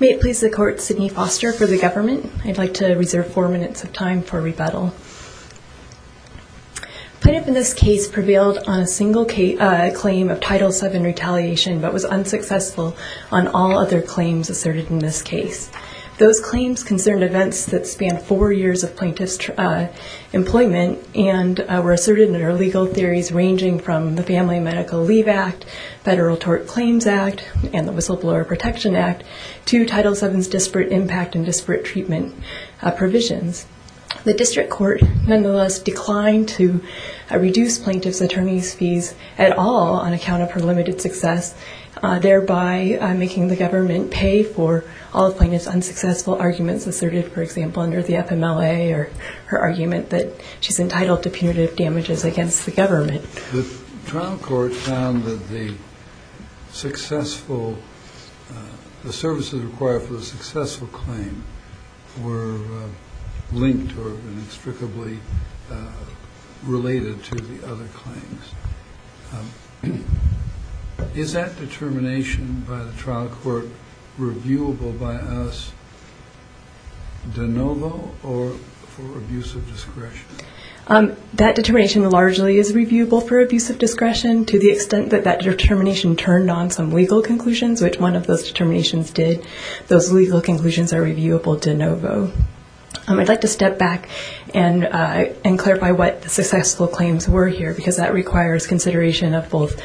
May it please the court, Sidney Foster for the government. I'd like to reserve four minutes of time for rebuttal. Plaintiff in this case prevailed on a single claim of Title VII retaliation but was unsuccessful on all other claims asserted in this case. Those claims concerned events that spanned four years of plaintiff's employment and were asserted under legal theories ranging from the Family Medical Leave Act, Federal Tort Claims Act, and the Whistleblower Protection Act to Title VII's disparate impact and disparate treatment provisions. The district court nonetheless declined to reduce plaintiff's attorney's fees at all on account of her limited success, thereby making the government pay for all plaintiff's unsuccessful arguments asserted, for example, under the FMLA or her argument that she's entitled to punitive damages against the government. The trial court found that the services required for a successful claim were linked or inextricably related to the other claims. Is that determination by the trial court reviewable by us de novo or for abuse of discretion? That determination largely is reviewable for abuse of discretion to the extent that that determination turned on some legal conclusions, which one of those determinations did. Those legal conclusions are reviewable de novo. I'd like to step back and clarify what successful claims were here because that requires consideration of both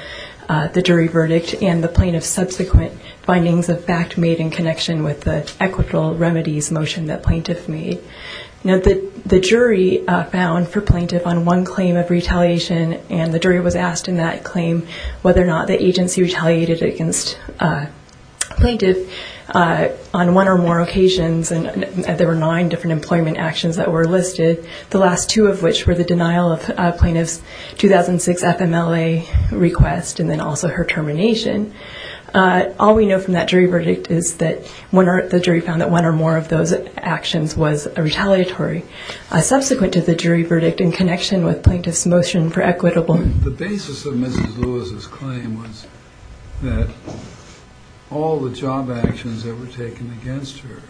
the jury verdict and the plaintiff's subsequent findings of fact made in connection with the equitable remedies motion that plaintiff made. The jury found for plaintiff on one claim of retaliation, and the jury was asked in that claim whether or not the agency retaliated against plaintiff on one or more occasions, and there were nine different employment actions that were listed, the last two of which were the denial of plaintiff's 2006 FMLA request and then also her termination. All we know from that jury verdict is that the jury found that one or more of those actions was retaliatory. Subsequent to the jury verdict in connection with plaintiff's motion for equitable... The basis of Mrs. Lewis' claim was that all the job actions that were taken against her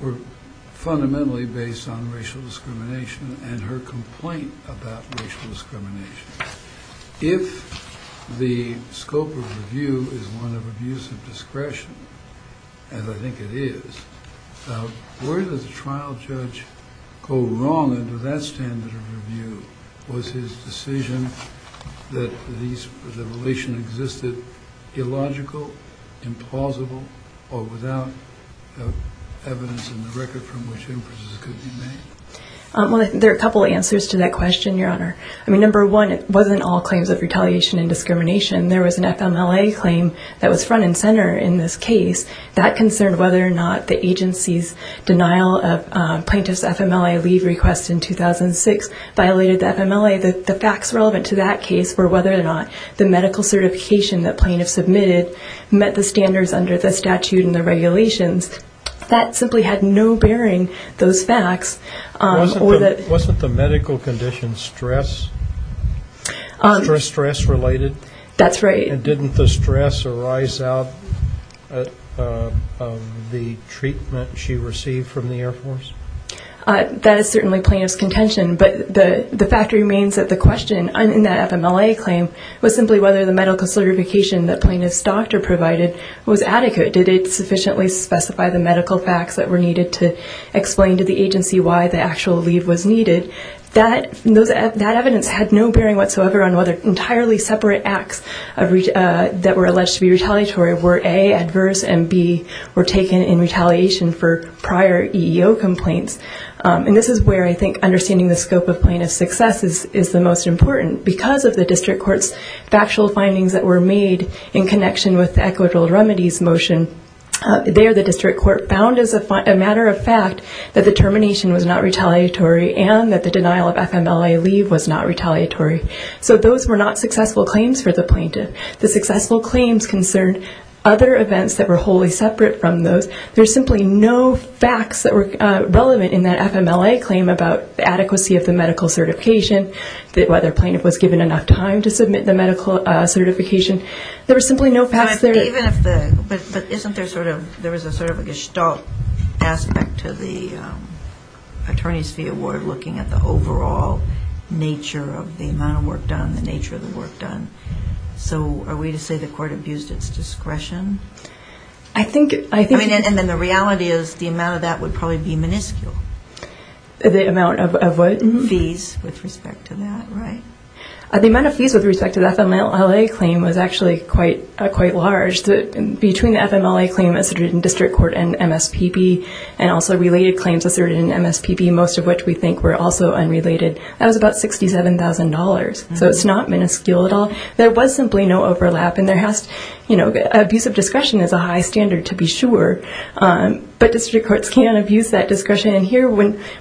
were fundamentally based on racial discrimination and her complaint about racial discrimination. If the scope of review is one of abuse of discretion, as I think it is, where does a trial judge go wrong under that standard of review? Was his decision that the relation existed illogical, implausible, or without evidence in the record from which inferences could be made? There are a couple of answers to that question, Your Honor. I mean, number one, it wasn't all claims of retaliation and discrimination. There was an FMLA claim that was front and center in this case. That concerned whether or not the agency's denial of plaintiff's FMLA leave request in 2006 violated the FMLA. The facts relevant to that case were whether or not the medical certification that plaintiff submitted met the standards under the statute and the regulations. That simply had no bearing, those facts. Wasn't the medical condition stress-related? That's right. And didn't the stress arise out of the treatment she received from the Air Force? That is certainly plaintiff's contention, but the fact remains that the question in that FMLA claim was simply whether the medical certification that plaintiff's doctor provided was adequate. Did it sufficiently specify the medical facts that were needed to explain to the agency why the actual leave was needed? That evidence had no bearing whatsoever on whether entirely separate acts that were alleged to be retaliatory were, A, adverse and, B, were taken in retaliation for prior EEO complaints. And this is where I think understanding the scope of plaintiff's success is the most important. Because of the district court's factual findings that were made in connection with the equitable remedies motion, there the district court found as a matter of fact that the termination was not retaliatory and that the denial of FMLA leave was not retaliatory. So those were not successful claims for the plaintiff. The successful claims concerned other events that were wholly separate from those. There were simply no facts that were relevant in that FMLA claim about the adequacy of the medical certification, whether plaintiff was given enough time to submit the medical certification. There were simply no facts there. But isn't there sort of a gestalt aspect to the Attorney's Fee Award looking at the overall nature of the amount of work done, the nature of the work done? So are we to say the court abused its discretion? And then the reality is the amount of that would probably be minuscule. The amount of what? Fees with respect to that, right? The amount of fees with respect to the FMLA claim was actually quite large. Between the FMLA claim asserted in district court and MSPB and also related claims asserted in MSPB, most of which we think were also unrelated, that was about $67,000. So it's not minuscule at all. There was simply no overlap. Abusive discretion is a high standard to be sure, but district courts can abuse that discretion. And here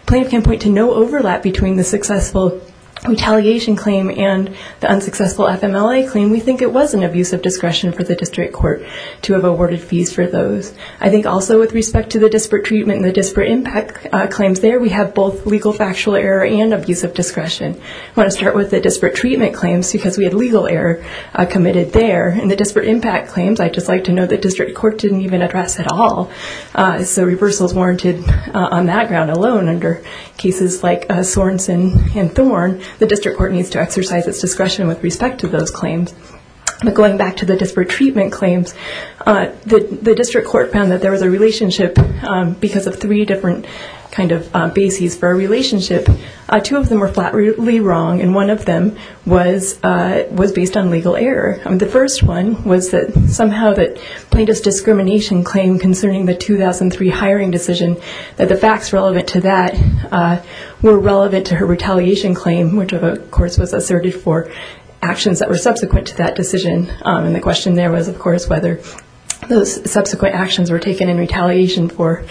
plaintiff can point to no overlap between the successful retaliation claim and the unsuccessful FMLA claim. We think it was an abuse of discretion for the district court to have awarded fees for those. I think also with respect to the disparate treatment and the disparate impact claims there, we have both legal factual error and abuse of discretion. I want to start with the disparate treatment claims because we had legal error committed there. In the disparate impact claims, I'd just like to note that district court didn't even address at all. So reversals warranted on that ground alone under cases like Sorenson and Thorne, the district court needs to exercise its discretion with respect to those claims. But going back to the disparate treatment claims, the district court found that there was a relationship because of three different kind of bases for a relationship. Two of them were flatly wrong, and one of them was based on legal error. The first one was that somehow that plaintiff's discrimination claim concerning the 2003 hiring decision, that the facts relevant to that were relevant to her retaliation claim, which of course was asserted for actions that were subsequent to that decision. And the question there was, of course, whether those subsequent actions were taken in retaliation for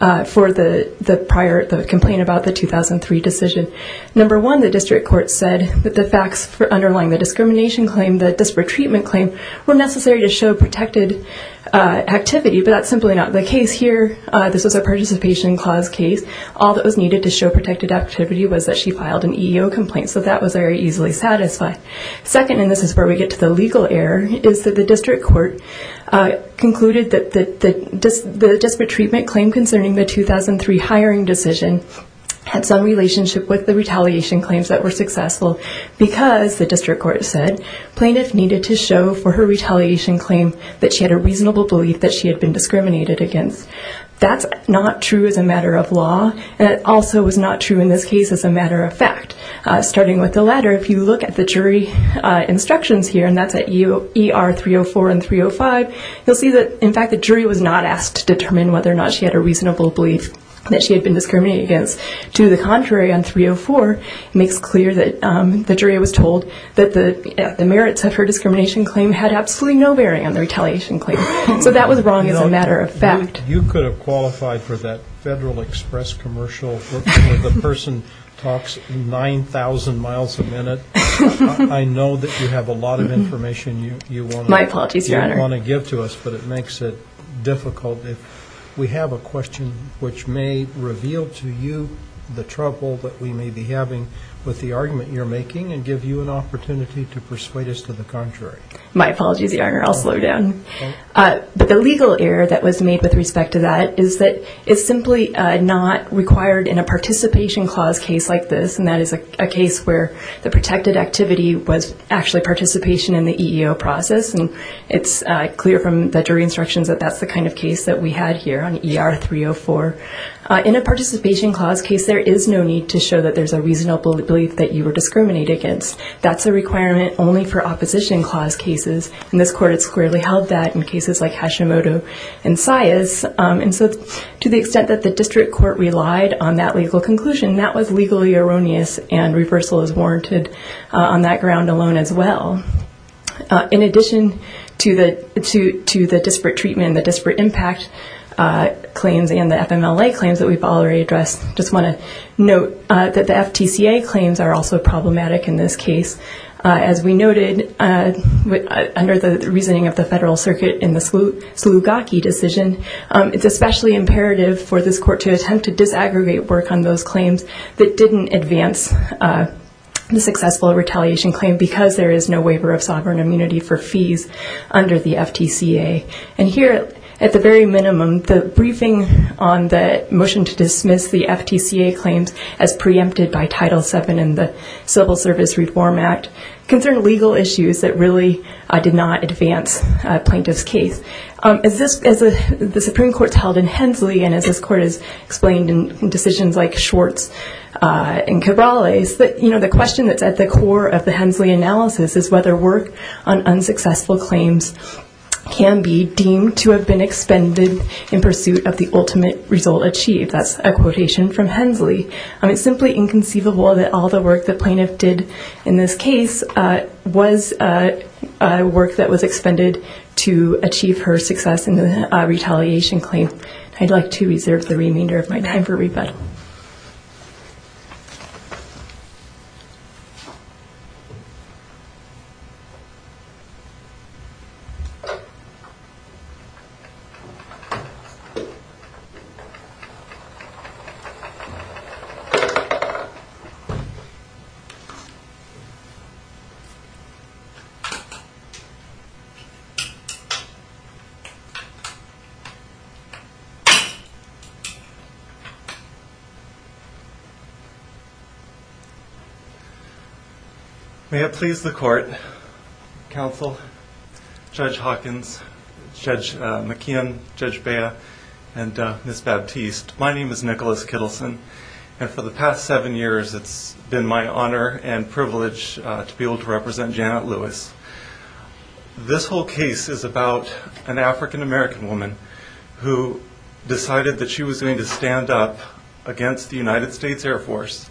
the prior complaint about the 2003 decision. Number one, the district court said that the facts for underlying the discrimination claim, the disparate treatment claim, were necessary to show protected activity, but that's simply not the case here. This was a participation clause case. All that was needed to show protected activity was that she filed an EEO complaint, so that was very easily satisfied. Second, and this is where we get to the legal error, is that the district court concluded that the disparate treatment claim concerning the 2003 hiring decision had some relationship with the retaliation claims that were successful because, the district court said, plaintiff needed to show for her retaliation claim that she had a reasonable belief that she had been discriminated against. That's not true as a matter of law, and it also was not true in this case as a matter of fact. Starting with the latter, if you look at the jury instructions here, and that's at ER 304 and 305, you'll see that, in fact, the jury was not asked to determine whether or not she had a reasonable belief that she had been discriminated against. To the contrary, on 304, it makes clear that the jury was told that the merits of her discrimination claim had absolutely no bearing on the retaliation claim. So that was wrong as a matter of fact. You could have qualified for that Federal Express commercial where the person talks 9,000 miles a minute. I know that you have a lot of information you want to give to us. My apologies, Your Honor. But it makes it difficult. We have a question which may reveal to you the trouble that we may be having with the argument you're making and give you an opportunity to persuade us to the contrary. My apologies, Your Honor. I'll slow down. But the legal error that was made with respect to that is that it's simply not required in a participation clause case like this, and that is a case where the protected activity was actually participation in the EEO process. And it's clear from the jury instructions that that's the kind of case that we had here on ER 304. In a participation clause case, there is no need to show that there's a reasonable belief that you were discriminated against. That's a requirement only for opposition clause cases. And this court had squarely held that in cases like Hashimoto and Saez. And so to the extent that the district court relied on that legal conclusion, that was legally erroneous, and reversal is warranted on that ground alone as well. In addition to the disparate treatment and the disparate impact claims and the FMLA claims that we've already addressed, I just want to note that the FTCA claims are also problematic in this case. As we noted, under the reasoning of the Federal Circuit in the Slugaki decision, it's especially imperative for this court to attempt to disaggregate work on those claims that didn't advance the successful retaliation claim because there is no waiver of sovereign immunity for fees under the FTCA. And here at the very minimum, the briefing on the motion to dismiss the FTCA claims as preempted by Title VII and the Civil Service Reform Act concern legal issues that really did not advance a plaintiff's case. As the Supreme Court's held in Hensley and as this court has explained in decisions like Schwartz and Cabrales, the question that's at the core of the Hensley analysis is whether work on unsuccessful claims can be deemed to have been expended in pursuit of the ultimate result achieved. That's a quotation from Hensley. It's simply inconceivable that all the work the plaintiff did in this case was work that was expended to achieve her success in the retaliation claim. I'd like to reserve the remainder of my time for rebuttal. May it please the court, counsel, Judge Hawkins, Judge McKeon, Judge Bea, and Ms. Baptiste, my name is Nicholas Kittleson. And for the past seven years, it's been my honor and privilege to be able to represent Janet Lewis. This whole case is about an African-American woman who decided that she was going to stand up against the United States Air Force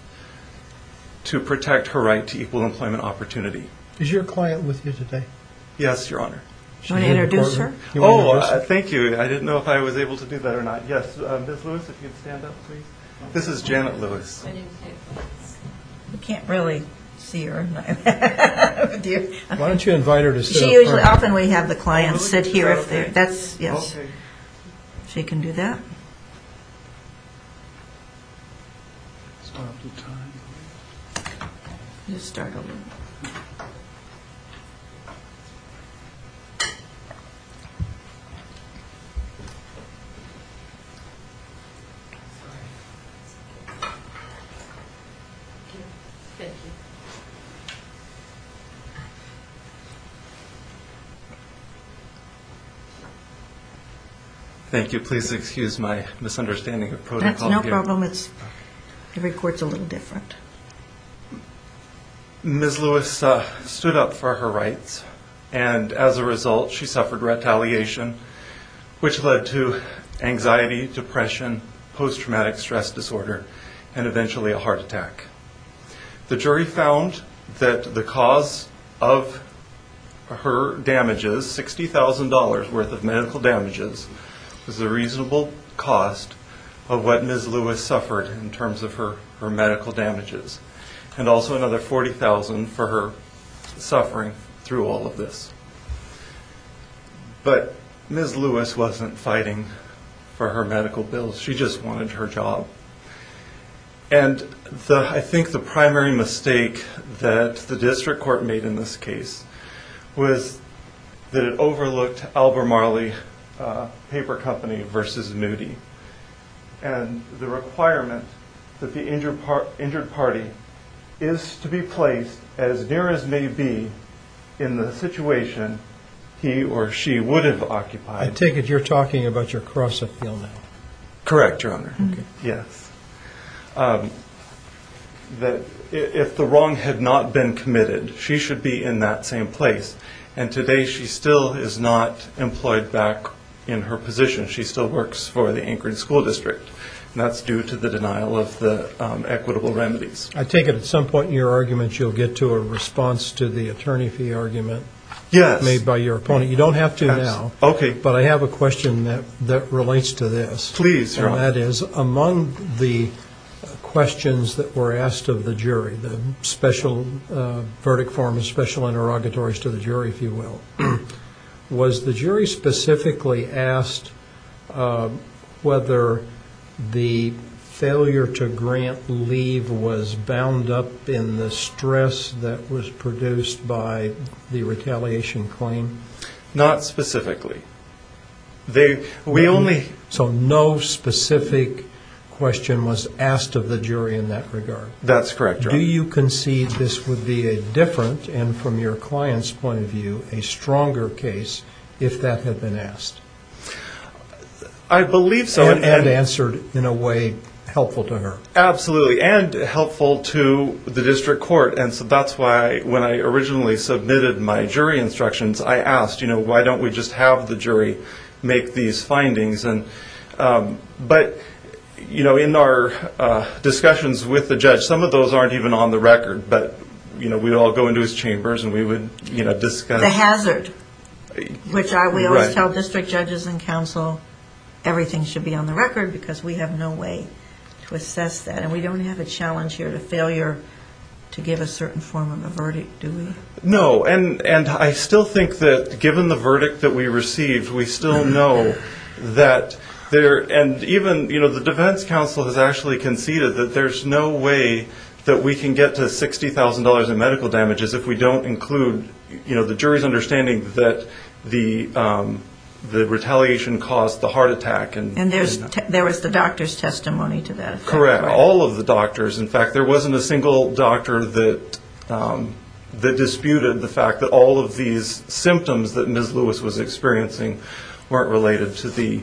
to protect her right to equal employment opportunity. Is your client with you today? Yes, Your Honor. Do you want to introduce her? Oh, thank you. I didn't know if I was able to do that or not. Yes, Ms. Lewis, if you'd stand up, please. This is Janet Lewis. My name's Janet Lewis. We can't really see her. Why don't you invite her to stand up? She usually, often we have the clients sit here if they're, that's, yes. She can do that. Stop the time. Just start over. Thank you. Please excuse my misunderstanding of protocol here. That's no problem. Every court's a little different. Ms. Lewis stood up for her rights, and as a result, she suffered retaliation, which led to anxiety, depression, post-traumatic stress disorder, and eventually a heart attack. The jury found that the cause of her damages, $60,000 worth of medical damages, was a reasonable cost of what Ms. Lewis suffered in terms of her medical damages, and also another $40,000 for her suffering through all of this. But Ms. Lewis wasn't fighting for her medical bills. She just wanted her job. And I think the primary mistake that the district court made in this case was that it overlooked Albert Marley Paper Company versus Moody, and the requirement that the injured party is to be placed as near as may be in the situation he or she would have occupied. I take it you're talking about your cross-appeal now. Correct, Your Honor. Yes. If the wrong had not been committed, she should be in that same place, and today she still is not employed back in her position. She still works for the Anchorage School District, and that's due to the denial of the equitable remedies. I take it at some point in your argument you'll get to a response to the attorney fee argument made by your opponent. Yes. You don't have to now. Okay. But I have a question that relates to this. Please, Your Honor. And that is, among the questions that were asked of the jury, the special verdict forms, special interrogatories to the jury, if you will, was the jury specifically asked whether the failure to grant leave was bound up in the stress that was produced by the retaliation claim? Not specifically. So no specific question was asked of the jury in that regard? That's correct, Your Honor. Do you concede this would be a different and, from your client's point of view, a stronger case if that had been asked? I believe so. And answered in a way helpful to her? Absolutely, and helpful to the district court. And so that's why when I originally submitted my jury instructions, I asked, you know, why don't we just have the jury make these findings? But, you know, in our discussions with the judge, some of those aren't even on the record, but, you know, we'd all go into his chambers and we would, you know, discuss. The hazard, which we always tell district judges and counsel everything should be on the record because we have no way to assess that. And we don't have a challenge here to failure to give a certain form of a verdict, do we? No, and I still think that given the verdict that we received, we still know that there, and even, you know, the defense counsel has actually conceded that there's no way that we can get to $60,000 in medical damages if we don't include, you know, the jury's understanding that the retaliation caused the heart attack. And there was the doctor's testimony to that. Correct. All of the doctors. In fact, there wasn't a single doctor that disputed the fact that all of these symptoms that Ms. Lewis was experiencing weren't related to the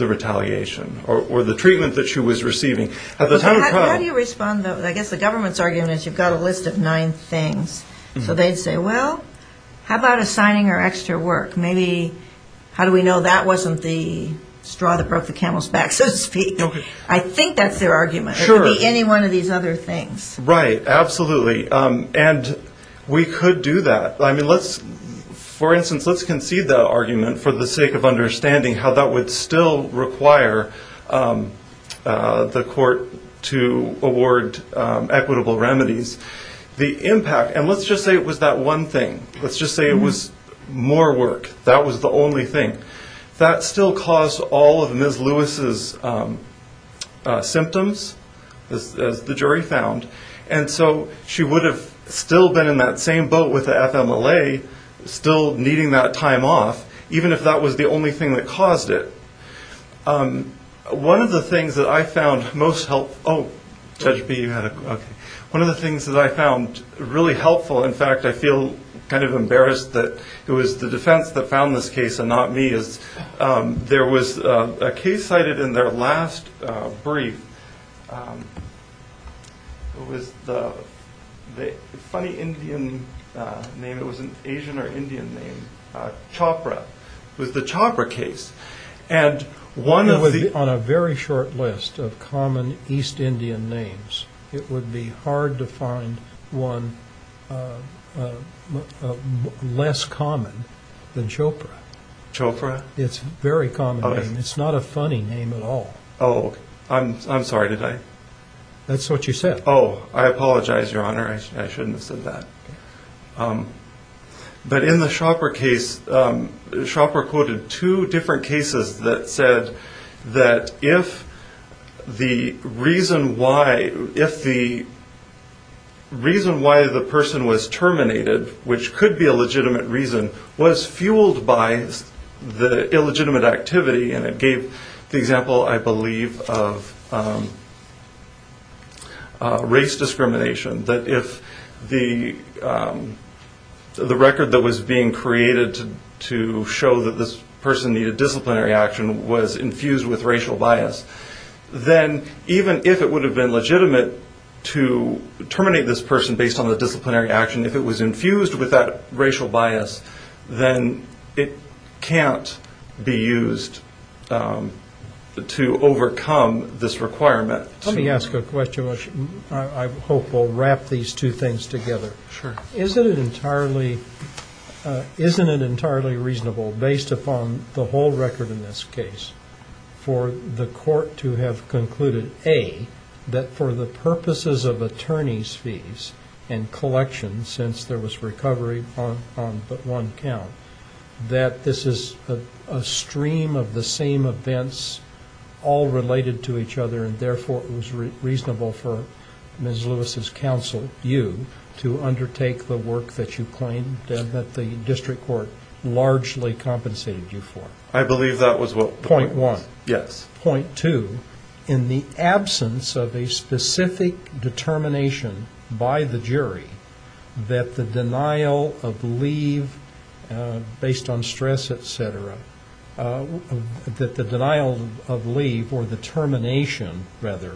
retaliation or the treatment that she was receiving. How do you respond, though? I guess the government's argument is you've got a list of nine things. So they'd say, well, how about assigning her extra work? Maybe, how do we know that wasn't the straw that broke the camel's back, so to speak? I think that's their argument. It could be any one of these other things. Right. Absolutely. And we could do that. I mean, let's, for instance, let's concede that argument for the sake of understanding how that would still require the court to award equitable remedies. The impact, and let's just say it was that one thing. Let's just say it was more work. That was the only thing. That still caused all of Ms. Lewis's symptoms, as the jury found. And so she would have still been in that same boat with the FMLA, still needing that time off, even if that was the only thing that caused it. One of the things that I found most helpful. Oh, Judge B, you had a question. One of the things that I found really helpful, in fact, I feel kind of embarrassed that it was the defense that found this case and not me, is there was a case cited in their last brief. It was the funny Indian name. It was an Asian or Indian name. Chopra. It was the Chopra case. On a very short list of common East Indian names, it would be hard to find one less common than Chopra. Chopra? It's a very common name. It's not a funny name at all. Oh, I'm sorry, did I? That's what you said. Oh, I apologize, Your Honor. I shouldn't have said that. But in the Chopra case, Chopra quoted two different cases that said that if the reason why the person was terminated, which could be a legitimate reason, was fueled by the illegitimate activity, and it gave the example, I believe, of race discrimination, that if the record that was being created to show that this person needed disciplinary action was infused with racial bias, then even if it would have been legitimate to terminate this person based on the disciplinary action, if it was infused with that racial bias, then it can't be used to overcome this requirement. Let me ask a question. I hope we'll wrap these two things together. Sure. Isn't it entirely reasonable, based upon the whole record in this case, for the court to have concluded, A, that for the purposes of attorney's fees and collections, since there was recovery on but one count, that this is a stream of the same events all related to each other, and therefore it was reasonable for Ms. Lewis's counsel, you, to undertake the work that you claimed that the district court largely compensated you for? I believe that was what the point was. Point one. Yes. Point two, in the absence of a specific determination by the jury that the denial of leave based on stress, et cetera, that the denial of leave, or the termination, rather,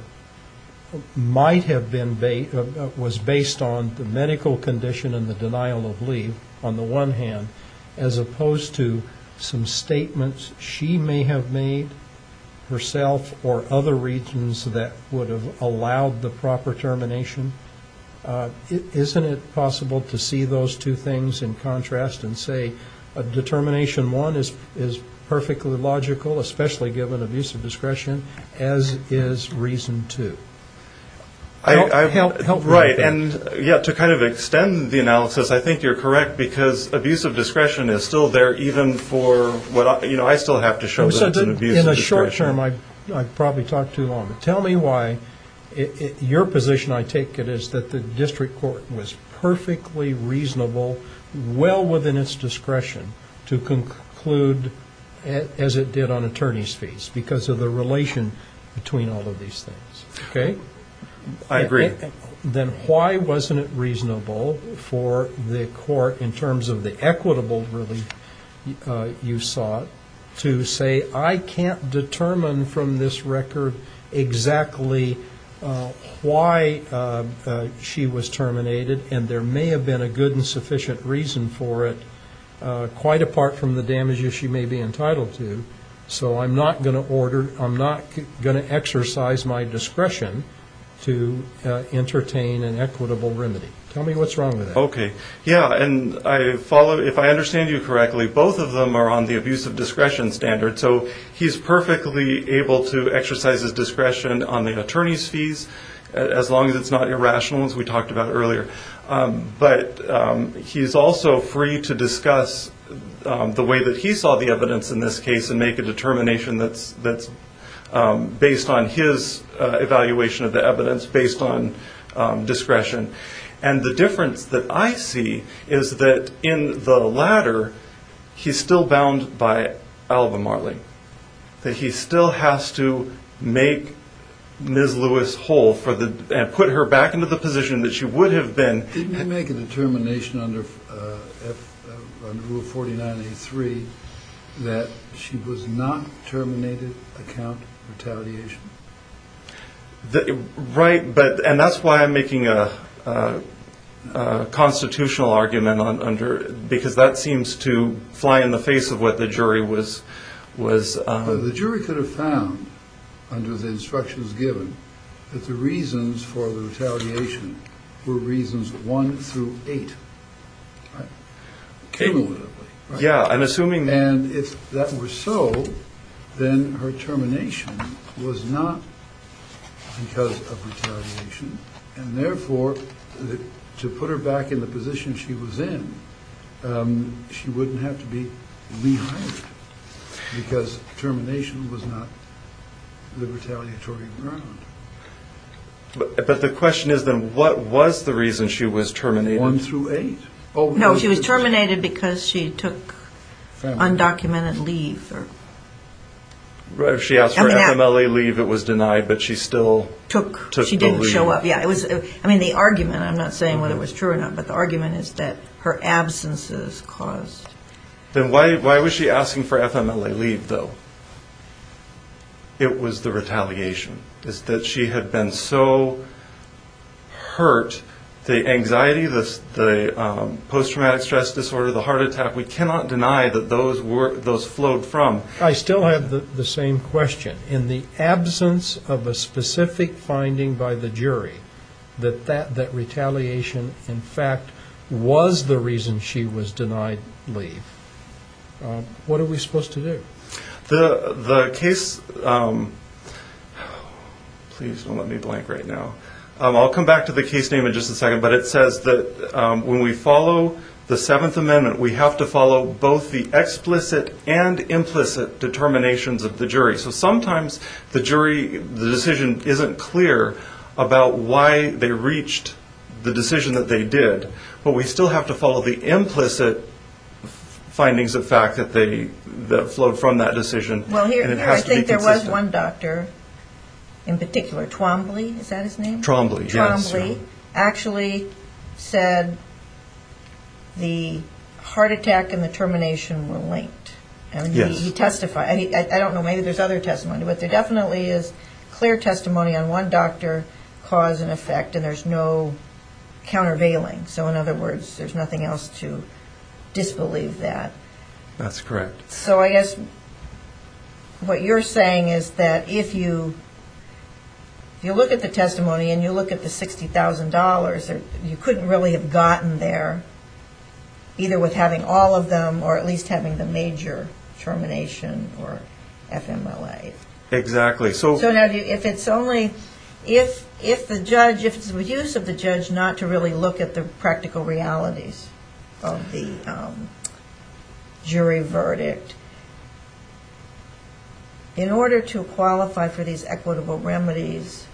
might have been based on the medical condition and the denial of leave, on the one hand, as opposed to some statements she may have made herself or other regions that would have allowed the proper termination? Isn't it possible to see those two things in contrast and say, determination one is perfectly logical, especially given abuse of discretion, as is reason two? Help me with that. And, yeah, to kind of extend the analysis, I think you're correct, because abuse of discretion is still there even for what I still have to show that it's an abuse of discretion. In the short term, I've probably talked too long, but tell me why your position, I take it, is that the district court was perfectly reasonable, well within its discretion to conclude as it did on attorney's fees, because of the relation between all of these things. Okay? I agree. Then why wasn't it reasonable for the court, in terms of the equitable relief you sought, to say I can't determine from this record exactly why she was terminated, and there may have been a good and sufficient reason for it, quite apart from the damages she may be entitled to, so I'm not going to exercise my discretion to entertain an equitable remedy. Tell me what's wrong with that. Okay. Yeah, and if I understand you correctly, both of them are on the abuse of discretion standard, so he's perfectly able to exercise his discretion on the attorney's fees, as long as it's not irrational, as we talked about earlier. But he's also free to discuss the way that he saw the evidence in this case, and make a determination that's based on his evaluation of the evidence, based on discretion. And the difference that I see is that in the latter, he's still bound by Alvin Marley, that he still has to make Ms. Lewis whole and put her back into the position that she would have been. Didn't he make a determination under Rule 49.83 that she was not terminated account retaliation? Right, and that's why I'm making a constitutional argument, because that seems to fly in the face of what the jury was. The jury could have found, under the instructions given, that the reasons for the retaliation were reasons one through eight. Okay. Yeah, I'm assuming. And if that were so, then her termination was not because of retaliation, and therefore to put her back in the position she was in, she wouldn't have to be rehired, because termination was not the retaliatory ground. But the question is, then, what was the reason she was terminated? One through eight. No, she was terminated because she took undocumented leave. If she asked for FMLA leave, it was denied, but she still took the leave. She didn't show up. I mean, the argument, I'm not saying whether it was true or not, but the argument is that her absence is caused. Then why was she asking for FMLA leave, though? It was the retaliation, is that she had been so hurt, the anxiety, the post-traumatic stress disorder, the heart attack, we cannot deny that those flowed from. I still have the same question. In the absence of a specific finding by the jury that retaliation, in fact, was the reason she was denied leave, what are we supposed to do? The case, please don't let me blank right now. I'll come back to the case name in just a second, but it says that when we follow the Seventh Amendment, we have to follow both the explicit and implicit determinations of the jury. So sometimes the jury, the decision isn't clear about why they reached the decision that they did, but we still have to follow the implicit findings of fact that flowed from that decision. I think there was one doctor in particular, Twombly, is that his name? Twombly, yes. Twombly actually said the heart attack and the termination were linked. Yes. He testified. I don't know, maybe there's other testimony, but there definitely is clear testimony on one doctor, cause and effect, and there's no countervailing. So in other words, there's nothing else to disbelieve that. That's correct. So I guess what you're saying is that if you look at the testimony and you look at the $60,000, you couldn't really have gotten there, either with having all of them or at least having the major termination or FMLA. Exactly. So if it's only, if it's the use of the judge not to really look at the practical realities of the jury verdict, in order to qualify for these equitable remedies,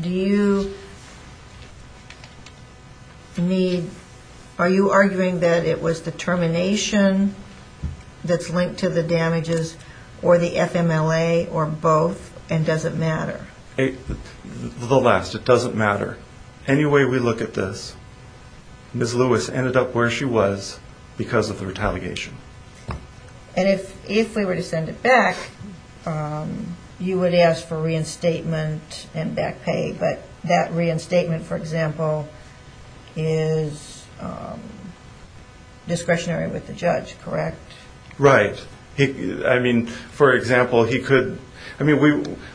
do you need, are you arguing that it was the termination that's linked to the damages, or the FMLA, or both, and does it matter? The last, it doesn't matter. Any way we look at this, Ms. Lewis ended up where she was because of the retaliation. And if we were to send it back, you would ask for reinstatement and back pay, but that reinstatement, for example, is discretionary with the judge, correct? Right. I mean, for example, he could, I mean,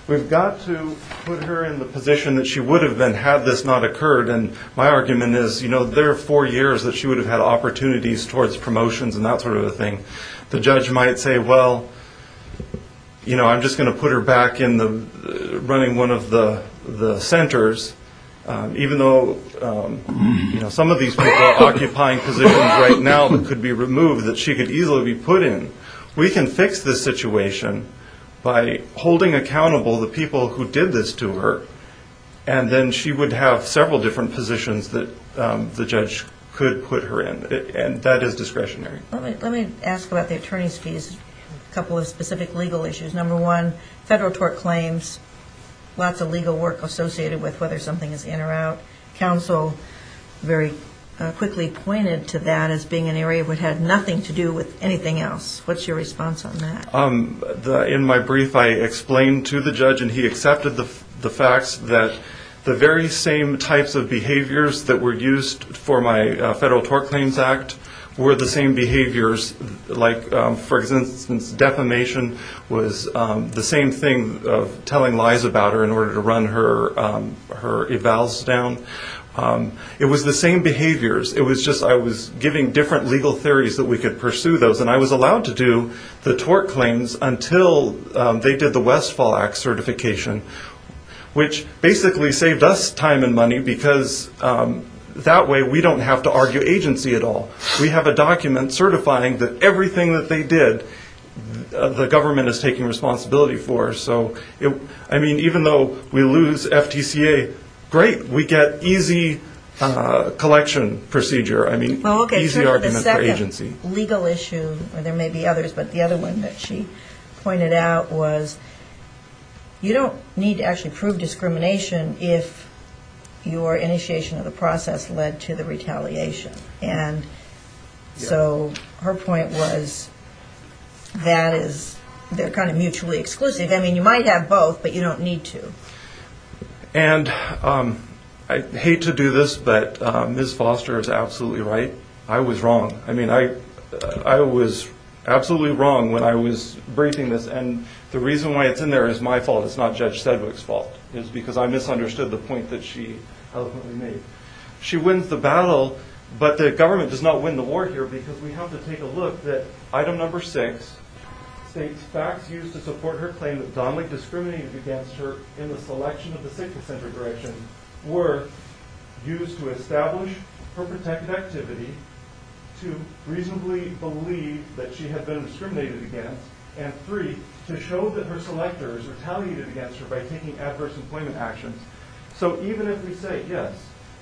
we've got to put her in the position that she would have been had this not occurred. And my argument is, you know, there are four years that she would have had opportunities towards promotions and that sort of a thing. The judge might say, well, you know, I'm just going to put her back in running one of the centers, even though some of these people are occupying positions right now that could be removed, that she could easily be put in. We can fix this situation by holding accountable the people who did this to her, and then she would have several different positions that the judge could put her in. And that is discretionary. Let me ask about the attorney's fees, a couple of specific legal issues. Number one, federal tort claims, lots of legal work associated with whether something is in or out. Counsel very quickly pointed to that as being an area that had nothing to do with anything else. What's your response on that? In my brief, I explained to the judge, and he accepted the facts that the very same types of behaviors that were used for my federal tort claims act were the same behaviors like, for instance, defamation was the same thing of telling lies about her in order to run her evals down. It was the same behaviors. It was just I was giving different legal theories that we could pursue those, and I was allowed to do the tort claims until they did the Westfall Act certification, which basically saved us time and money because that way we don't have to argue agency at all. We have a document certifying that everything that they did, the government is taking responsibility for. So, I mean, even though we lose FTCA, great, we get easy collection procedure. There may be others, but the other one that she pointed out was you don't need to actually prove discrimination if your initiation of the process led to the retaliation. And so her point was that is kind of mutually exclusive. I mean, you might have both, but you don't need to. And I hate to do this, but Ms. Foster is absolutely right. I was wrong. I mean, I was absolutely wrong when I was briefing this. And the reason why it's in there is my fault. It's not Judge Sedgwick's fault. It's because I misunderstood the point that she made. She wins the battle, but the government does not win the war here because we have to take a look that item number six states facts used to support her claim that Donnelly discriminated against her were used to establish her protected activity, to reasonably believe that she had been discriminated against, and three, to show that her selectors retaliated against her by taking adverse employment actions. So even if we say, yes,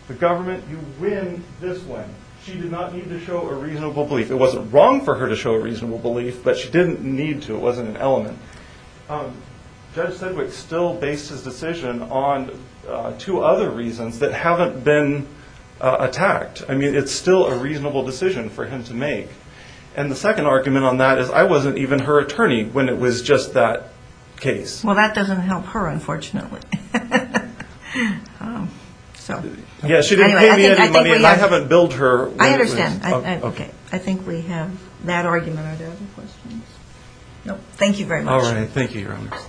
the government, you win this one, she did not need to show a reasonable belief. It wasn't wrong for her to show a reasonable belief, but she didn't need to. It wasn't an element. Judge Sedgwick still based his decision on two other reasons that haven't been attacked. I mean, it's still a reasonable decision for him to make. And the second argument on that is I wasn't even her attorney when it was just that case. Well, that doesn't help her, unfortunately. Yeah, she didn't pay me any money, and I haven't billed her. I understand. Okay. I think we have that argument. Are there other questions? No. Thank you very much. All right. Thank you, Your Honors.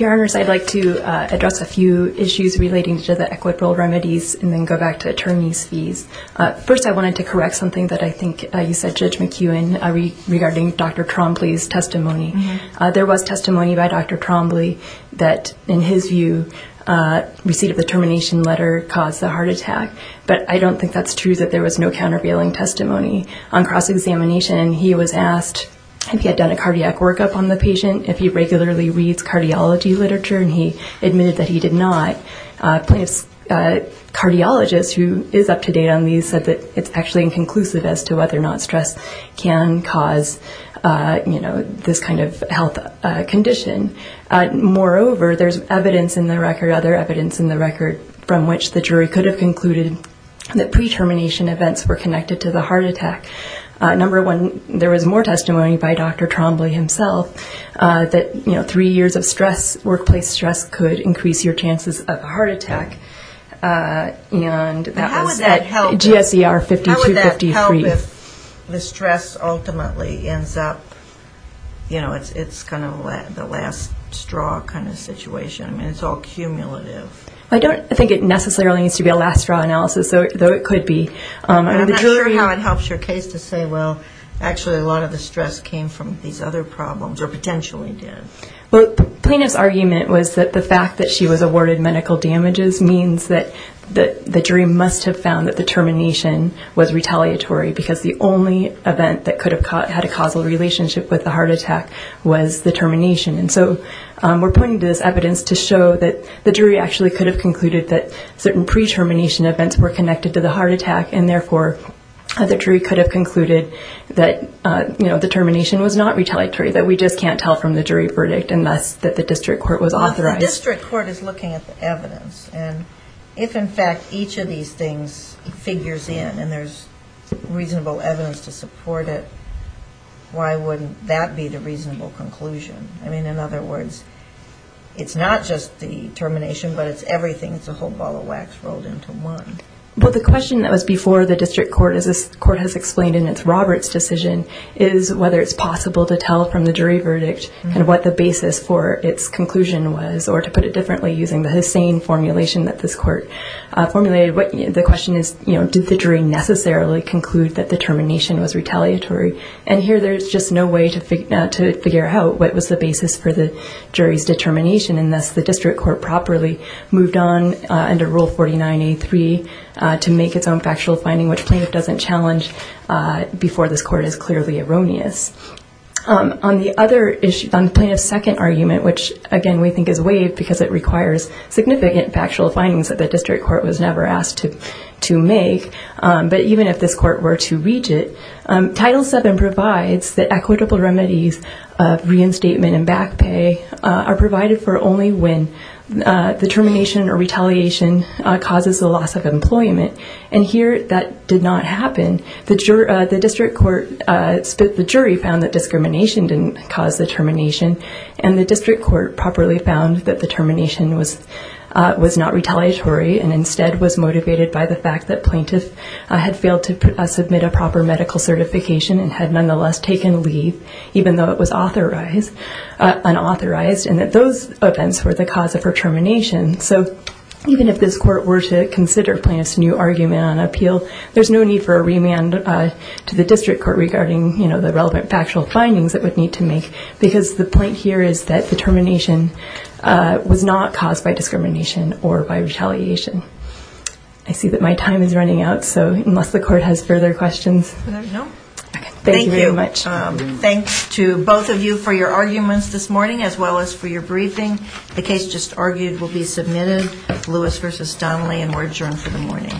Your Honors, I'd like to address a few issues relating to the equitable remedies and then go back to attorney's fees. First, I wanted to correct something that I think you said, Judge McEwen, regarding Dr. Trompley's testimony. There was testimony by Dr. Trompley that, in his view, receipt of the termination letter caused the heart attack. But I don't think that's true that there was no countervailing testimony. On cross-examination, he was asked if he had done a cardiac workup on the patient, if he regularly reads cardiology literature, and he admitted that he did not. Cardiologist, who is up-to-date on these, said that it's actually inconclusive as to whether or not stress can cause, you know, this kind of health condition. Moreover, there's evidence in the record, other evidence in the record, from which the jury could have concluded that pre-termination events were connected to the heart attack. Number one, there was more testimony by Dr. Trompley himself that, you know, three years of stress, workplace stress, could increase your chances of a heart attack. And that was at GSER 5253. How would that help if the stress ultimately ends up, you know, it's kind of the last straw kind of situation? I mean, it's all cumulative. I don't think it necessarily needs to be a last straw analysis, though it could be. I'm not sure how it helps your case to say, well, actually a lot of the stress came from these other problems, or potentially did. Well, the plaintiff's argument was that the fact that she was awarded medical damages means that the jury must have found that the termination was retaliatory because the only event that could have had a causal relationship with the heart attack was the termination. And so we're putting this evidence to show that the jury actually could have concluded that certain pre-termination events were connected to the heart attack, and therefore the jury could have concluded that, you know, the termination was not retaliatory, that we just can't tell from the jury verdict unless that the district court was authorized. The district court is looking at the evidence. And if, in fact, each of these things figures in and there's reasonable evidence to support it, why wouldn't that be the reasonable conclusion? I mean, in other words, it's not just the termination, but it's everything. It's a whole ball of wax rolled into one. Well, the question that was before the district court, as this court has explained in its Roberts decision, is whether it's possible to tell from the jury verdict and what the basis for its conclusion was, or to put it differently using the Hussain formulation that this court formulated. The question is, you know, did the jury necessarily conclude that the termination was retaliatory? And here there's just no way to figure out what was the basis for the jury's determination, and thus the district court properly moved on under Rule 49A.3 to make its own factual finding, which plaintiff doesn't challenge before this court is clearly erroneous. On the other issue, on plaintiff's second argument, which, again, we think is waived because it requires significant factual findings that the district court was never asked to make, but even if this court were to read it, Title VII provides that equitable remedies of reinstatement and back pay are provided for only when the termination or retaliation causes a loss of employment, and here that did not happen. The district court split the jury, found that discrimination didn't cause the termination, and the district court properly found that the termination was not retaliatory and instead was motivated by the fact that plaintiff had failed to submit a proper medical certification and had nonetheless taken leave, even though it was unauthorized, and that those events were the cause of her termination. So even if this court were to consider plaintiff's new argument on appeal, there's no need for a remand to the district court regarding the relevant factual findings it would need to make, because the point here is that the termination was not caused by discrimination or by retaliation. I see that my time is running out, so unless the court has further questions. Thank you very much. Thank you. Thanks to both of you for your arguments this morning, as well as for your briefing. The case just argued will be submitted, Lewis v. Donnelly, and we're adjourned for the morning. Thank you very much.